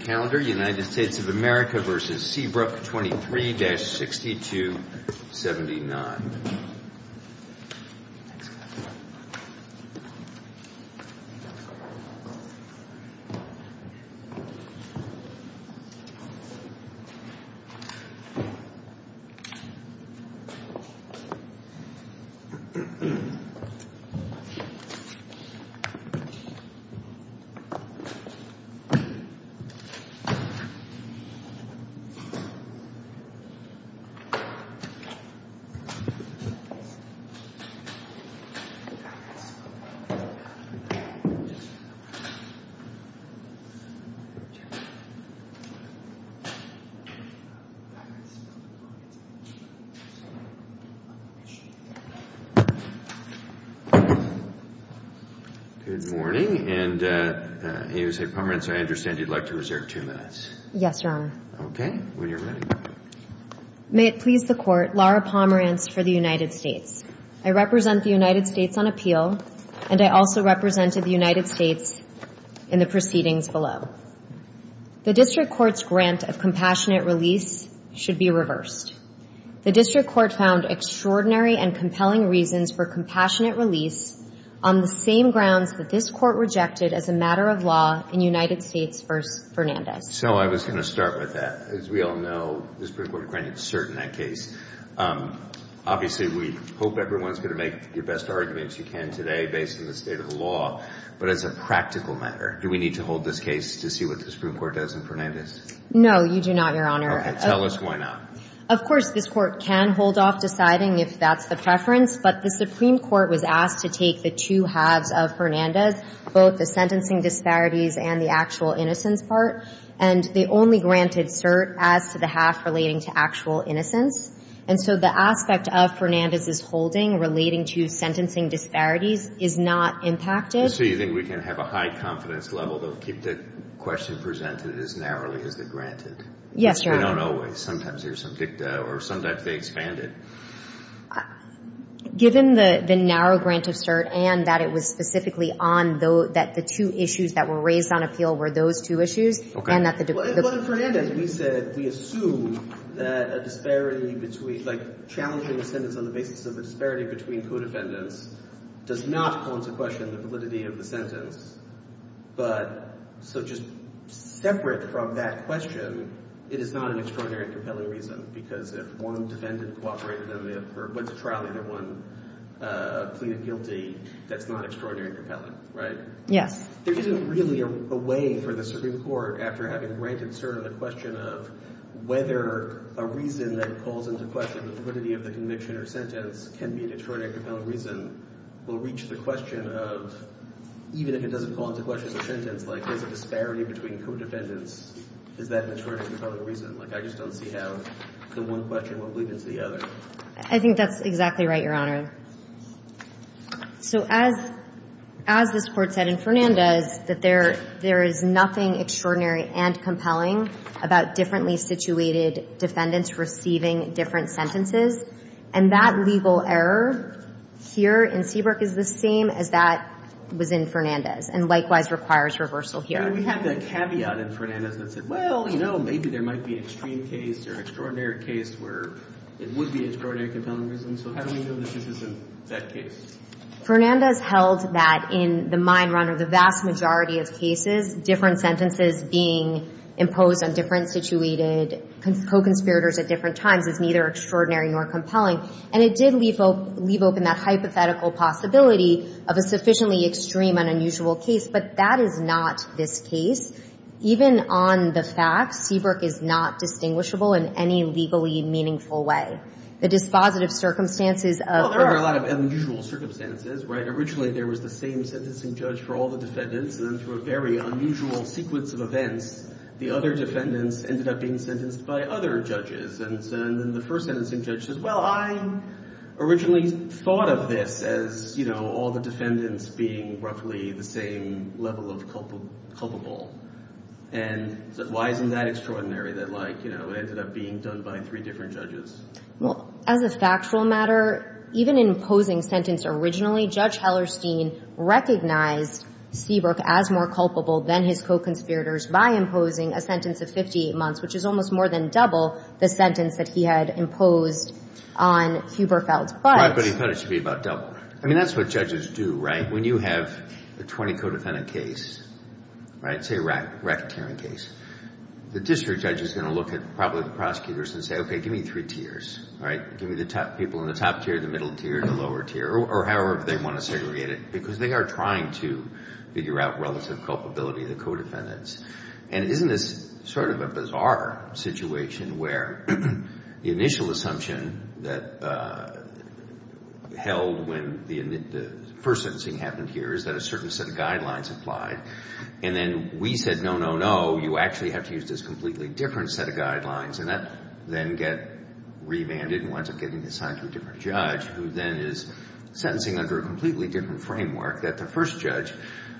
23-6279. Good morning, and AUSA Permanence, I understand you'd like to reserve two minutes for questions. Yes, Your Honor. Okay, when you're ready. May it please the Court, Laura Pomerantz for the United States. I represent the United States on appeal, and I also represented the United States in the proceedings below. The District Court's grant of compassionate release should be reversed. The District Court found extraordinary and compelling reasons for compassionate release on the same grounds that this Court rejected as a matter of law in United States v. Fernandez. So I was going to start with that. As we all know, the Supreme Court granted cert in that case. Obviously, we hope everyone's going to make the best arguments you can today based on the state of the law. But as a practical matter, do we need to hold this case to see what the Supreme Court does in Fernandez? No, you do not, Your Honor. Okay, tell us why not. Of course, this Court can hold off deciding if that's the preference. But the Supreme Court was asked to take the two halves of Fernandez, both the sentencing disparities and the actual innocence part. And they only granted cert as to the half relating to actual innocence. And so the aspect of Fernandez's holding relating to sentencing disparities is not impacted. So you think we can have a high confidence level to keep the question presented as narrowly as the granted? Yes, Your Honor. They don't always. Sometimes there's some dicta or sometimes they expand it. Given the narrow grant of cert and that it was specifically on those – that the two issues that were raised on appeal were those two issues. Okay. And that the – Well, in Fernandez, we said we assume that a disparity between – like, challenging a sentence on the basis of a disparity between co-defendants does not consequence the validity of the sentence. But – so just separate from that question, it is not an extraordinary and compelling reason because if one defendant cooperated in the – or went to trial and had one plead guilty, that's not extraordinary and compelling, right? Yes. There isn't really a way for the Supreme Court, after having granted cert on the question of whether a reason that calls into question the validity of the conviction or sentence can be an extraordinary and compelling reason will reach the question of – even if it doesn't call into question the sentence, like, there's a disparity between co-defendants, is that an extraordinary and compelling reason? Like, I just don't see how the one question will bleed into the other. I think that's exactly right, Your Honor. So as this Court said in Fernandez, that there is nothing extraordinary and compelling about differently situated defendants receiving different sentences. And that legal error here in Seabrook is the same as that was in Fernandez and likewise requires reversal here. We had that caveat in Fernandez that said, well, you know, maybe there might be an extreme case or an extraordinary case where it would be extraordinary and compelling reason. So how do we know that this isn't that case? Fernandez held that in the mine run or the vast majority of cases, different sentences being imposed on different situated co-conspirators at different times is neither extraordinary nor compelling. And it did leave open that hypothetical possibility of a sufficiently extreme and unusual case. But that is not this case. Even on the facts, Seabrook is not distinguishable in any legally meaningful way. The dispositive circumstances of – Well, there were a lot of unusual circumstances, right? Originally, there was the same sentencing judge for all the defendants. And then through a very unusual sequence of events, the other defendants ended up being sentenced by other judges. And then the first sentencing judge says, well, I originally thought of this as, you know, all the defendants being roughly the same level of culpable. And so why isn't that extraordinary that, like, you know, it ended up being done by three different judges? Well, as a factual matter, even imposing sentence originally, Judge Hellerstein recognized Seabrook as more culpable than his co-conspirators by imposing a sentence of 58 months, which is almost more than double the sentence that he had imposed on Huberfeld. Right, but he thought it should be about double. I mean, that's what judges do, right? When you have a 20-codefendant case, right, say a racketeering case, the district judge is going to look at probably the prosecutors and say, okay, give me three tiers, right? Give me the people in the top tier, the middle tier, the lower tier, or however they want to segregate it, because they are trying to figure out relative culpability of the co-defendants. And isn't this sort of a bizarre situation where the initial assumption that held when the first sentencing happened here is that a certain set of guidelines applied, and then we said, no, no, no, you actually have to use this completely different set of guidelines, and that then get revanded and winds up getting assigned to a different judge, who then is sentencing under a completely different framework that the first judge,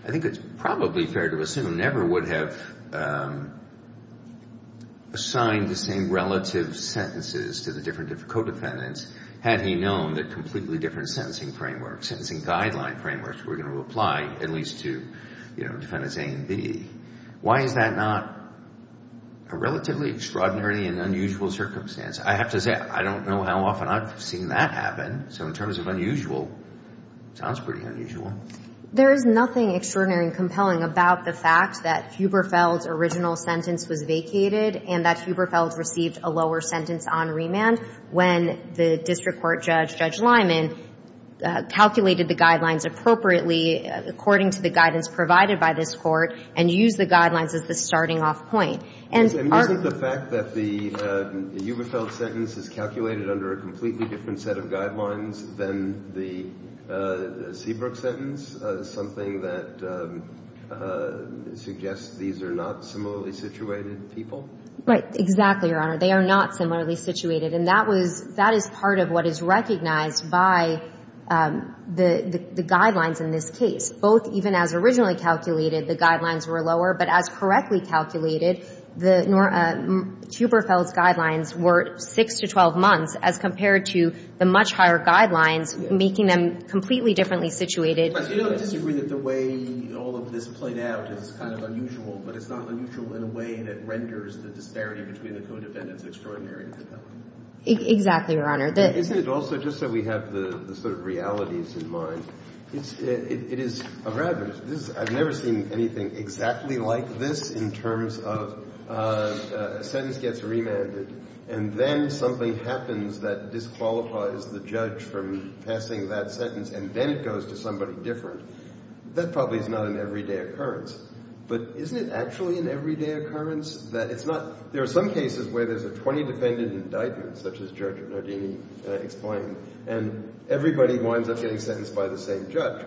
I think it's probably fair to assume, never would have assigned the same relative sentences to the different co-defendants had he known that completely different sentencing frameworks, sentencing guideline frameworks, were going to apply at least to, you know, defendants A and B. Why is that not a relatively extraordinary and unusual circumstance? I have to say, I don't know how often I've seen that happen. So in terms of unusual, it sounds pretty unusual. There is nothing extraordinary and compelling about the fact that Huberfeld's original sentence was vacated and that Huberfeld received a lower sentence on remand when the district court judge, Judge Lyman, calculated the guidelines appropriately according to the guidance provided by this court and used the guidelines as the starting off point. And aren't... And isn't the fact that the Huberfeld sentence is calculated under a completely different set of guidelines than the Seabrook sentence something that suggests these are not similarly situated people? Right. Exactly, Your Honor. They are not similarly situated. And that was, that is part of what is recognized by the guidelines in this case, both even as originally calculated, the guidelines were lower, but as correctly calculated, the Huberfeld's guidelines were 6 to 12 months as compared to the much higher guidelines, making them completely differently situated. But you don't disagree that the way all of this played out is kind of unusual, but it's not unusual in a way that renders the disparity between the co-defendants extraordinary and compelling? Exactly, Your Honor. Isn't it also just that we have the sort of realities in mind? It's, it is, I've never seen anything exactly like this in terms of a sentence gets remanded and then something happens that disqualifies the judge from passing that sentence and then it goes to somebody different. That probably is not an everyday occurrence. But isn't it actually an everyday occurrence that it's not, there are some cases where there's a 20 defendant indictment such as Judge Nardini explained and everybody winds up getting sentenced by the same judge.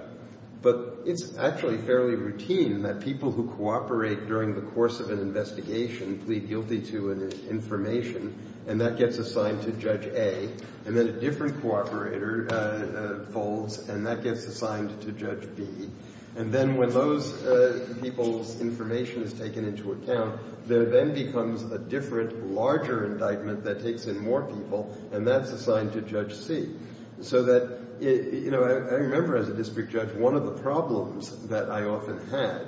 But it's actually fairly routine that people who cooperate during the course of an investigation plead guilty to an information and that gets assigned to Judge A and then a different cooperator folds and that gets assigned to Judge B. And then when those people's information is taken into account, there then becomes a different, larger indictment that takes in more people and that's assigned to Judge C. So that, you know, I remember as a district judge one of the problems that I often had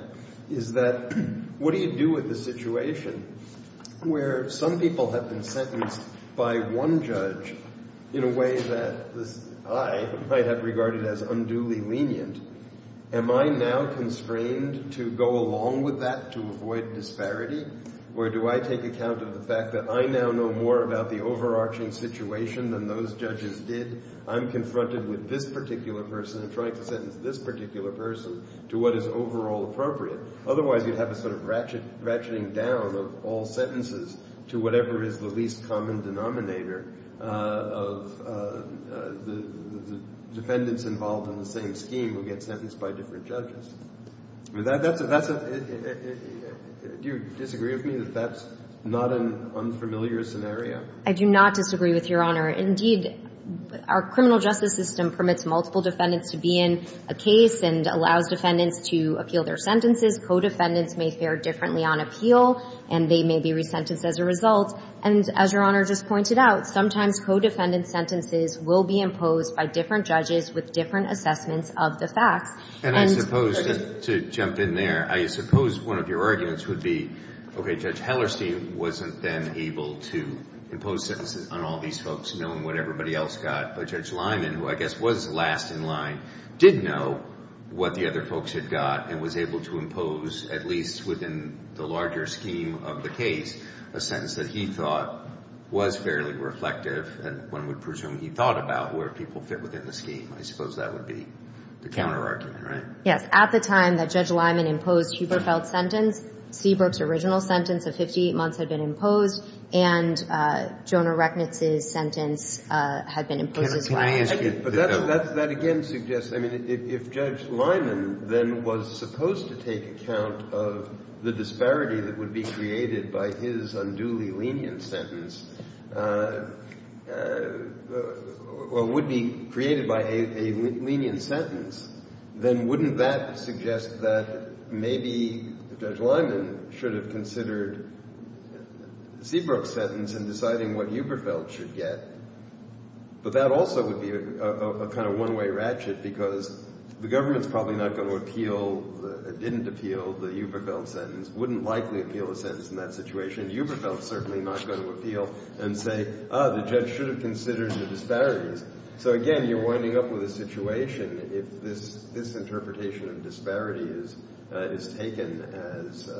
is that what do you do with the situation where some people have been sentenced by one judge in a way that I might have regarded as unduly lenient? Am I now constrained to go along with that to avoid disparity? Or do I take account of the fact that I now know more about the overarching situation than those judges did? I'm confronted with this particular person and trying to sentence this particular person to what is overall appropriate. Otherwise you'd have a sort of ratcheting down of all sentences to whatever is the least common denominator of the defendants involved in the same scheme who get sentenced by different judges. Do you disagree with me that that's not an unfamiliar scenario? I do not disagree with Your Honor. Indeed, our criminal justice system permits multiple defendants to be in a case and allows defendants to appeal their sentences. Co-defendants may fare differently on appeal and they may be resentenced as a result. And as Your Honor just pointed out, sometimes co-defendant sentences will be imposed by different judges with different assessments of the facts. And I suppose, to jump in there, I suppose one of your arguments would be, okay, Judge Hellerstein wasn't then able to impose sentences on all these folks knowing what everybody else got, but Judge Lyman, who I guess was last in line, did know what the other folks had got and was able to impose, at least within the larger scheme of the case, a sentence that he thought was fairly reflective and one would presume he thought about where people fit within the scheme. I suppose that would be the counterargument, right? Yes. At the time that Judge Lyman imposed Huberfeld's sentence, Seabrook's original sentence of 58 months had been imposed and Jonah Recknitz's sentence had been imposed as well. But that again suggests, I mean, if Judge Lyman then was supposed to take account of the disparity that would be created by his unduly lenient sentence, or would be created by a lenient sentence, then wouldn't that suggest that maybe Judge Lyman should have considered Seabrook's sentence in deciding what Huberfeld should get? But that also would be a kind of one-way ratchet because the government's probably not going to appeal, didn't appeal, the Huberfeld sentence, wouldn't likely appeal a sentence in that situation. Huberfeld's certainly not going to appeal and say, ah, the judge should have considered the disparities. So again, you're winding up with a situation if this interpretation of disparity is taken as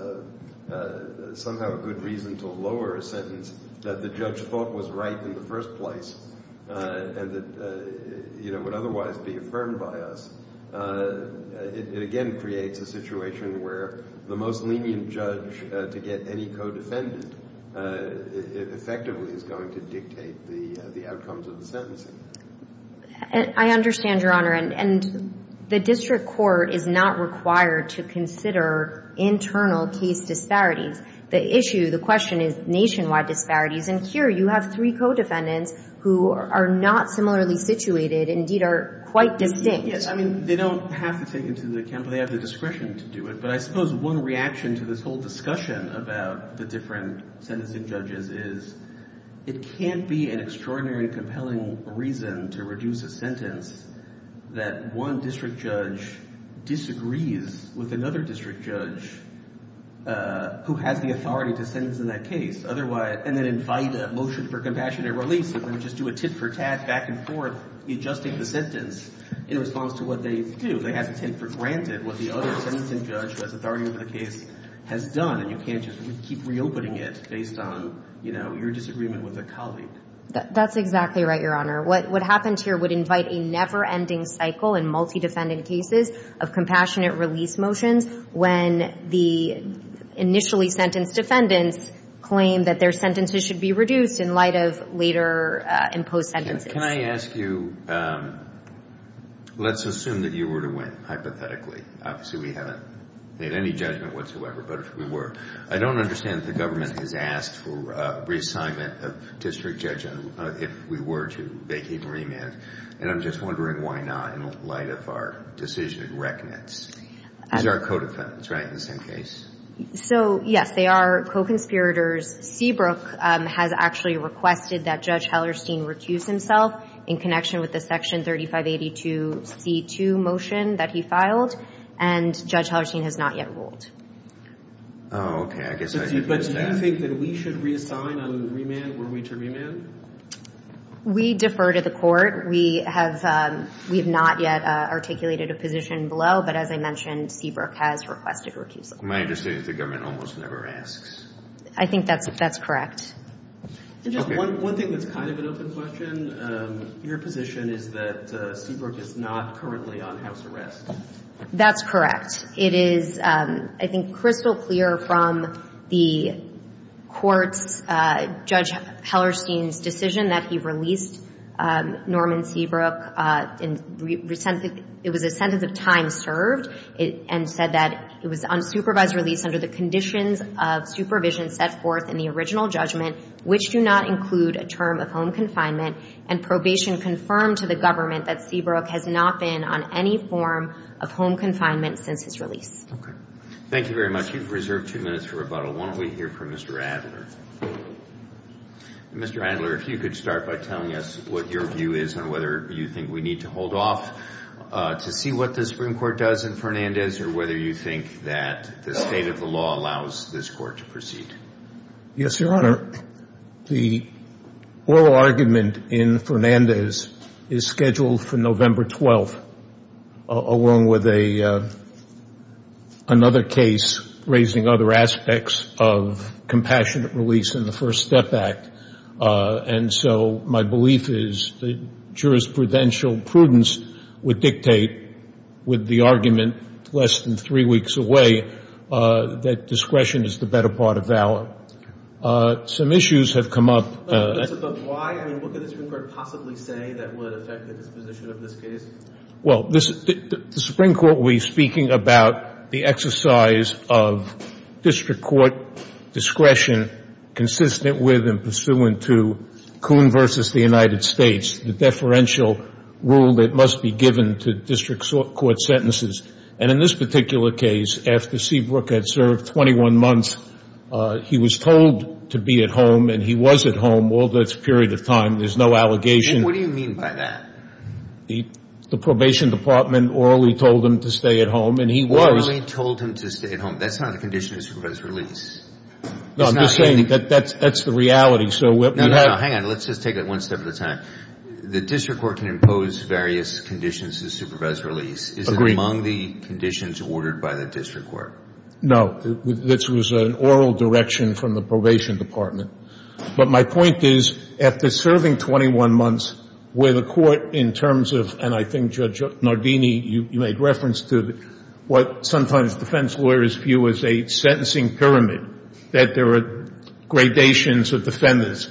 somehow a good reason to lower a sentence that the judge thought was right in the first place and that would otherwise be affirmed by us, it again creates a situation where the most lenient judge to get any co-defendant effectively is going to dictate the outcomes of the sentencing. I understand, Your Honor. And the district court is not required to consider internal case disparities. The issue, the question is nationwide disparities. And here you have three co-defendants who are not similarly situated, indeed are quite distinct. Yes, I mean, they don't have to take into account, but they have the discretion to do it. But I suppose one reaction to this whole discussion about the different sentencing judges is it can't be an extraordinary compelling reason to reduce a sentence that one district judge disagrees with another district judge who has the authority to sentence in that case and then invite a motion for compassionate release and then just do a tit-for-tat back and forth adjusting the sentence in response to what they do. They have to take for granted what the other sentencing judge who has authority over the case has done and you can't just keep reopening it based on your disagreement with a colleague. That's exactly right, Your Honor. What happens here would invite a never-ending cycle in multi-defendant cases of compassionate release motions when the initially sentenced defendants claim that their sentences should be reduced in light of later imposed sentences. Can I ask you, let's assume that you were to win, hypothetically. Obviously, we haven't made any judgment whatsoever, but if we were, I don't understand that the government has asked for reassignment of district judges if we were to vacate remand, and I'm just wondering why not in light of our decision in reckoning. These are our co-defendants, right, in the same case? So, yes, they are co-conspirators. Seabrook has actually requested that Judge Hellerstein recuse himself in connection with the Section 3582C2 motion that he filed and Judge Hellerstein has not yet ruled. Oh, okay, I guess I should do that. But do you think that we should reassign on remand were we to remand? We defer to the court. We have not yet articulated a position below, but as I mentioned, Seabrook has requested recusal. My understanding is the government almost never asks. I think that's correct. One thing that's kind of an open question, your position is that Seabrook is not currently on house arrest. That's correct. It is, I think, crystal clear from the court's Judge Hellerstein's decision that he released Norman Seabrook. It was a sentence of time served and said that it was unsupervised release under the conditions of supervision set forth in the original judgment which do not include a term of home confinement and probation confirmed to the government that Seabrook has not been on any form of home confinement since his release. Okay. Thank you very much. You've reserved two minutes for rebuttal. Why don't we hear from Mr. Adler? Mr. Adler, if you could start by telling us what your view is on whether you think we need to hold off to see what the Supreme Court does in Fernandez or whether you think that the state of the law allows this court to proceed. Yes, Your Honor. The oral argument in Fernandez is scheduled for November 12, along with another case raising other aspects of compassionate release in the First Step Act. And so my belief is that jurisprudential prudence would dictate, with the argument less than three weeks away, that discretion is the better part of valor. Some issues have come up. But why? I mean, what could the Supreme Court possibly say that would affect the disposition of this case? Well, the Supreme Court will be speaking about the exercise of district court discretion consistent with and pursuant to Coon v. the United States, the deferential rule that must be given to district court sentences. And in this particular case, after Seabrook had served 21 months, he was told to be at home, and he was at home all this period of time. There's no allegation. And what do you mean by that? The probation department orally told him to stay at home, and he was. Orally told him to stay at home. That's not a condition of supervised release. No, I'm just saying that that's the reality. No, no, hang on. Let's just take it one step at a time. The district court can impose various conditions of supervised release. Is it among the conditions ordered by the district court? No. This was an oral direction from the probation department. But my point is, after serving 21 months, where the court in terms of, and I think Judge Nardini, you made reference to, what sometimes defense lawyers view as a sentencing pyramid, that there are gradations of defendants.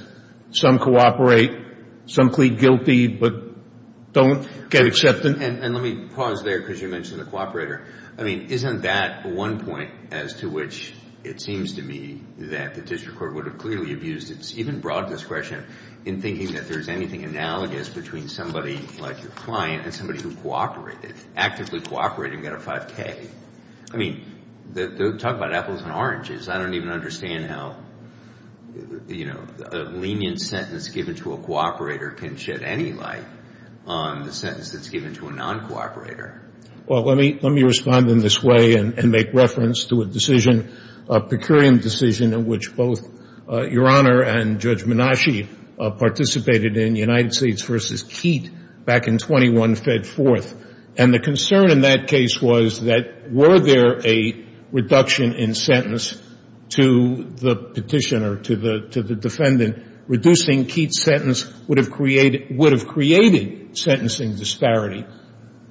Some cooperate. Some plead guilty but don't get acceptance. And let me pause there because you mentioned the cooperator. I mean, isn't that one point as to which it seems to me that the district court would have clearly abused its even broad discretion in thinking that there's anything analogous between somebody like your client and somebody who cooperated, actively cooperated and got a 5K. I mean, talk about apples and oranges. I don't even understand how, you know, a lenient sentence given to a cooperator can shed any light on the sentence that's given to a non-cooperator. Well, let me respond in this way and make reference to a decision, a per curiam decision in which both Your Honor and Judge Menasche participated in United States v. Keats back in 21-fed-4th. And the concern in that case was that were there a reduction in sentence to the petitioner, to the defendant, reducing Keats' sentence would have created sentencing disparity.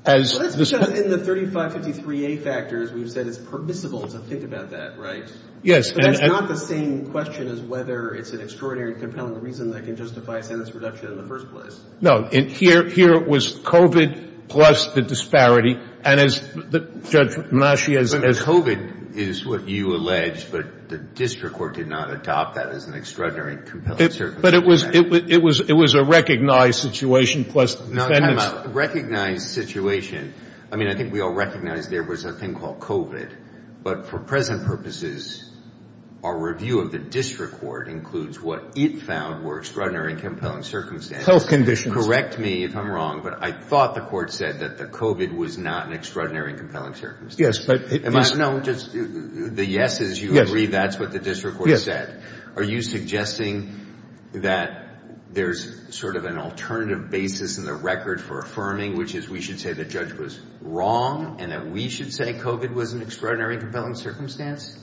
Well, that's because in the 3553A factors, we've said it's permissible to think about that, right? Yes. But that's not the same question as whether it's an extraordinarily compelling reason that can justify a sentence reduction in the first place. No. Here it was COVID plus the disparity. And as Judge Menasche has said. But COVID is what you allege, but the district court did not adopt that as an extraordinarily compelling circumstance. But it was a recognized situation plus the defendant's. Recognized situation. I mean, I think we all recognize there was a thing called COVID. But for present purposes, our review of the district court includes what it found were extraordinary and compelling circumstances. Health conditions. Correct me if I'm wrong, but I thought the court said that the COVID was not an extraordinary and compelling circumstance. Yes, but. No, just the yeses. You agree that's what the district court said. Are you suggesting that there's sort of an alternative basis in the record for affirming, which is we should say the judge was wrong and that we should say COVID was an extraordinary and compelling circumstance.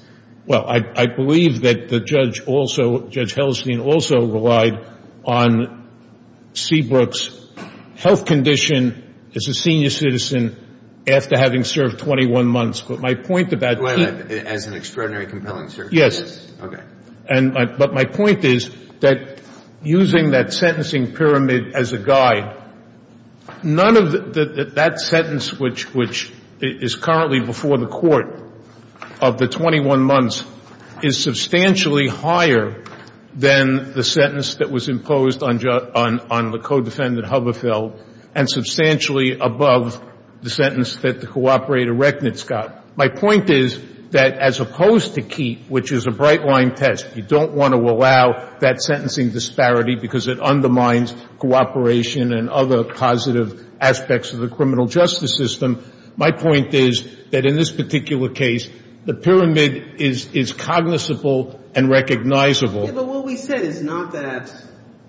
Well, I believe that the judge also, Judge Hellstein also relied on Seabrook's health condition as a senior citizen after having served 21 months. But my point about. As an extraordinary compelling circumstance. Yes. Okay. But my point is that using that sentencing pyramid as a guide, none of that sentence, which is currently before the court of the 21 months is substantially higher than the sentence that was imposed on the co-defendant Huberfeld and substantially above the sentence that the cooperator Recknitz got. My point is that as opposed to keep, which is a bright line test, you don't want to allow that sentencing disparity because it undermines cooperation and other positive aspects of the criminal justice system. My point is that in this particular case, the pyramid is is cognizable and recognizable. But what we said is not that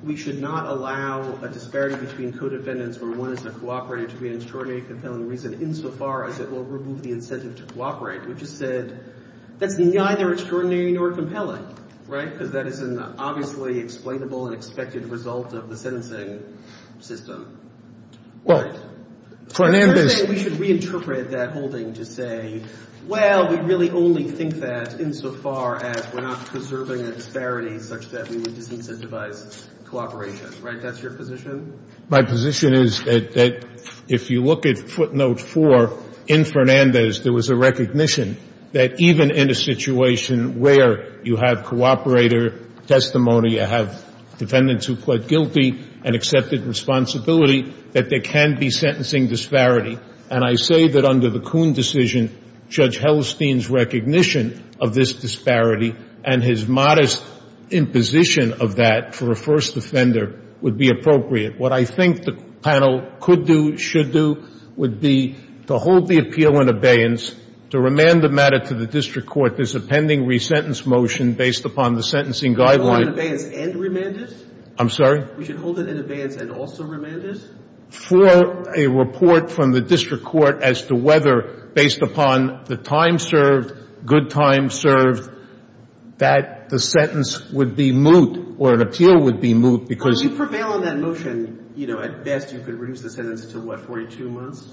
we should not allow a disparity between We just said that's neither extraordinary nor compelling. Right. Because that is an obviously explainable and expected result of the sentencing system. Well, We should reinterpret that holding to say, well, we really only think that insofar as we're not preserving a disparity such that we would disincentivize cooperation. Right. That's your position. My position is that if you look at footnote four in Fernandez, there was a recognition that even in a situation where you have cooperator testimony, you have defendants who pled guilty and accepted responsibility, that there can be sentencing disparity. And I say that under the Kuhn decision, Judge Hellstein's recognition of this disparity and his modest imposition of that for a first offender would be appropriate. What I think the panel could do, should do would be to hold the appeal in abeyance to remand the matter to the district court. There's a pending re-sentence motion based upon the sentencing guideline. Hold it in abeyance and remand it? I'm sorry? We should hold it in abeyance and also remand it? For a report from the district court as to whether based upon the time served, good time served, that the sentence would be moot or an appeal would be moot because. Well, if you prevail on that motion, you know, at best you could reduce the sentence to what, 42 months?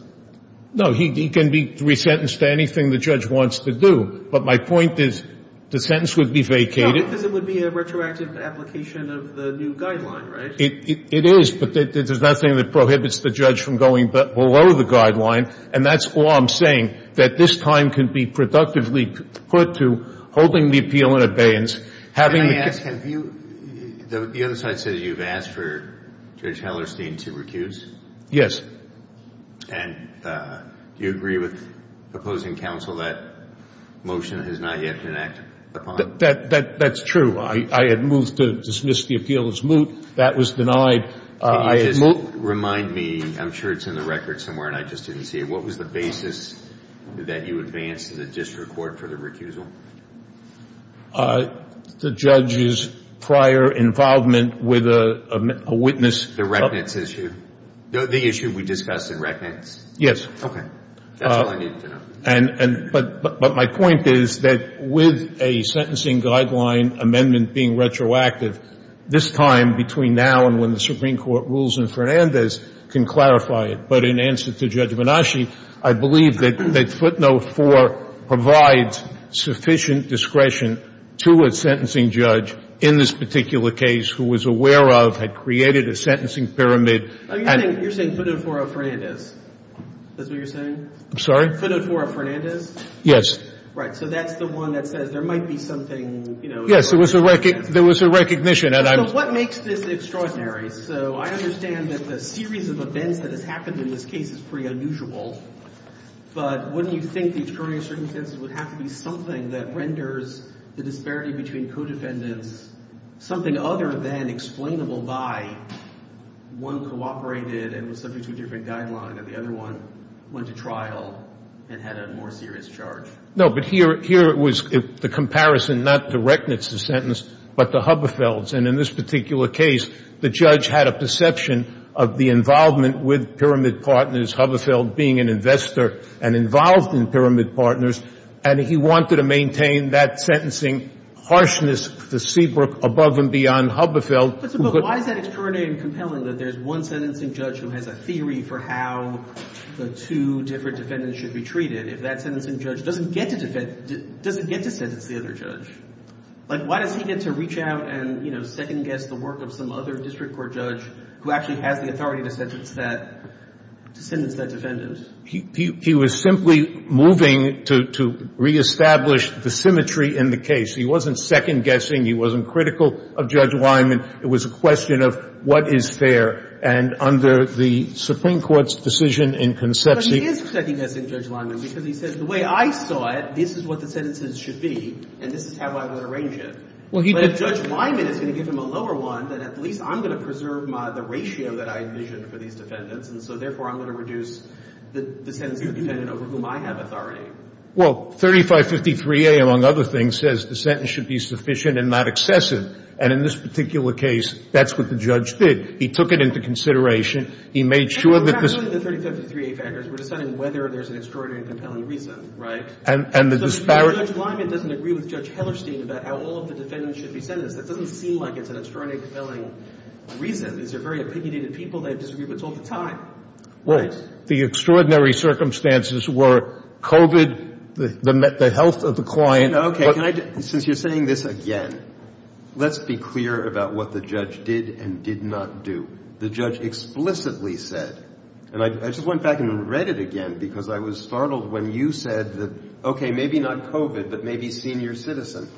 No. He can be re-sentenced to anything the judge wants to do. But my point is the sentence would be vacated. No, because it would be a retroactive application of the new guideline, right? It is, but there's nothing that prohibits the judge from going below the guideline. And that's all I'm saying, that this time can be productively put to holding the appeal in abeyance. Can I ask, have you, the other side says you've asked for Judge Hellerstein to recuse? Yes. And do you agree with opposing counsel that motion has not yet been acted upon? That's true. I had moved to dismiss the appeal as moot. That was denied. Can you just remind me, I'm sure it's in the record somewhere, and I just didn't see it. What was the basis that you advanced to the district court for the recusal? The judge's prior involvement with a witness. The reckoning issue. The issue we discussed in reckoning. Yes. Okay. That's all I needed to know. But my point is that with a sentencing guideline amendment being retroactive, this time between now and when the Supreme Court rules in Fernandez can clarify it. But in answer to Judge Menasci, I believe that footnote 4 provides sufficient discretion to a sentencing judge in this particular case who was aware of, had created a sentencing pyramid. You're saying footnote 4 of Fernandez? Is that what you're saying? I'm sorry? Footnote 4 of Fernandez? Yes. Right. So that's the one that says there might be something, you know. Yes. There was a recognition. So what makes this extraordinary? So I understand that the series of events that has happened in this case is pretty unusual. But wouldn't you think the extraordinary circumstances would have to be something that renders the disparity between co-defendants something other than explainable by one cooperated and was subject to a different guideline and the other one went to trial and had a more serious charge? No. But here it was the comparison, not the reckoning of the sentence, but the Huberfelds. And in this particular case, the judge had a perception of the involvement with pyramid partners, Huberfeld being an investor and involved in pyramid partners. And he wanted to maintain that sentencing harshness, the Seabrook above and beyond Huberfeld. But why is that extraordinary and compelling that there's one sentencing judge who has a theory for how the two different defendants should be treated if that sentencing judge doesn't get to defend, doesn't get to sentence the other judge? Like, why does he get to reach out and, you know, second-guess the work of some other district court judge who actually has the authority to sentence that defendant? He was simply moving to reestablish the symmetry in the case. He wasn't second-guessing. He wasn't critical of Judge Lyman. It was a question of what is fair. And under the Supreme Court's decision in Concepcion But he is second-guessing Judge Lyman because he says the way I saw it, this is what the sentences should be, and this is how I would arrange it. But if Judge Lyman is going to give him a lower one, then at least I'm going to preserve the ratio that I envisioned for these defendants. And so, therefore, I'm going to reduce the sentence of the defendant over whom I have authority. Well, 3553A, among other things, says the sentence should be sufficient and not excessive. And in this particular case, that's what the judge did. He took it into consideration. He made sure that this And we're not doing the 3553A factors. We're deciding whether there's an extraordinary and compelling reason, right? And the disparity Judge Lyman doesn't agree with Judge Hellerstein about how all of the defendants should be sentenced. That doesn't seem like it's an extraordinarily compelling reason. These are very opinionated people. They disagree with us all the time. Well, the extraordinary circumstances were COVID, the health of the client Okay, since you're saying this again, let's be clear about what the judge did and did not do. The judge explicitly said, and I just went back and read it again because I was Okay, maybe not COVID, but maybe senior citizen.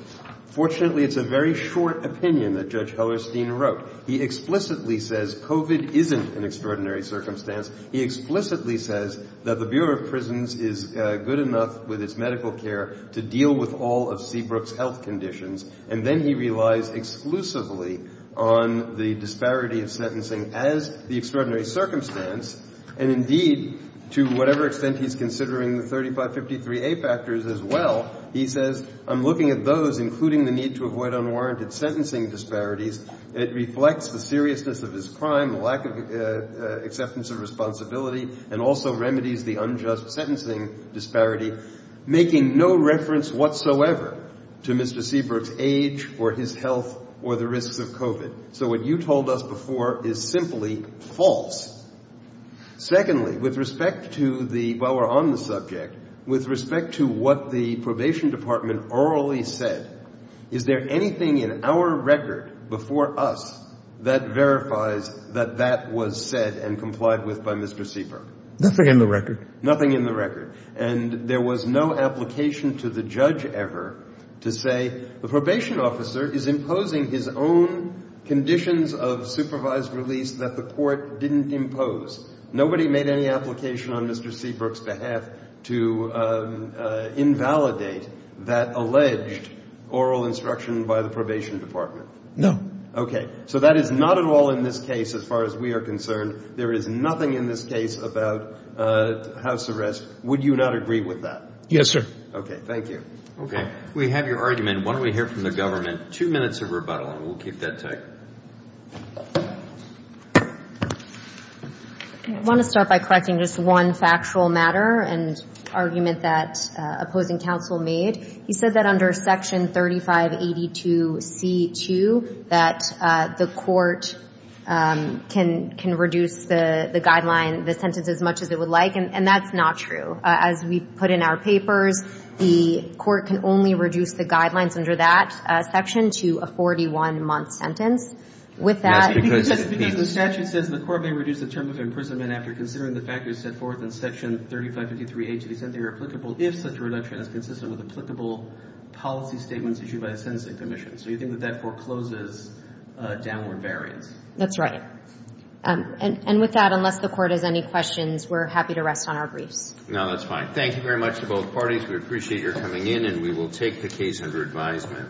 Fortunately, it's a very short opinion that Judge Hellerstein wrote. He explicitly says COVID isn't an extraordinary circumstance. He explicitly says that the Bureau of Prisons is good enough with its medical care to deal with all of Seabrook's health conditions, and then he relies exclusively on the disparity of sentencing as the extraordinary circumstance. And indeed, to whatever extent he's considering the 3553A factors as well, he says, I'm looking at those, including the need to avoid unwarranted sentencing disparities. It reflects the seriousness of his crime, the lack of acceptance of responsibility, and also remedies the unjust sentencing disparity, making no reference whatsoever to Mr. Seabrook's age or his health or the risks of COVID. So what you told us before is simply false. Secondly, with respect to the – while we're on the subject, with respect to what the Probation Department orally said, is there anything in our record before us that verifies that that was said and complied with by Mr. Seabrook? Nothing in the record. Nothing in the record. And there was no application to the judge ever to say the probation officer is imposing his own conditions of supervised release that the court didn't impose. Nobody made any application on Mr. Seabrook's behalf to invalidate that alleged oral instruction by the Probation Department. No. Okay. So that is not at all in this case as far as we are concerned. There is nothing in this case about house arrest. Would you not agree with that? Yes, sir. Okay. Thank you. Okay. We have your argument. And why don't we hear from the government. Two minutes of rebuttal and we'll keep that tight. I want to start by correcting just one factual matter and argument that opposing counsel made. He said that under Section 3582C2 that the court can reduce the guideline, the sentence, as much as it would like, and that's not true. As we put in our papers, the court can only reduce the guidelines under that section to a 41-month sentence. Yes, because the statute says the court may reduce the term of imprisonment after considering the factors set forth in Section 3553A to the extent they are applicable if such a reduction is consistent with applicable policy statements issued by a sentencing commission. So you think that that forecloses downward variance? That's right. And with that, unless the court has any questions, we're happy to rest on our briefs. No, that's fine. Thank you very much to both parties. We appreciate your coming in and we will take the case under advisement.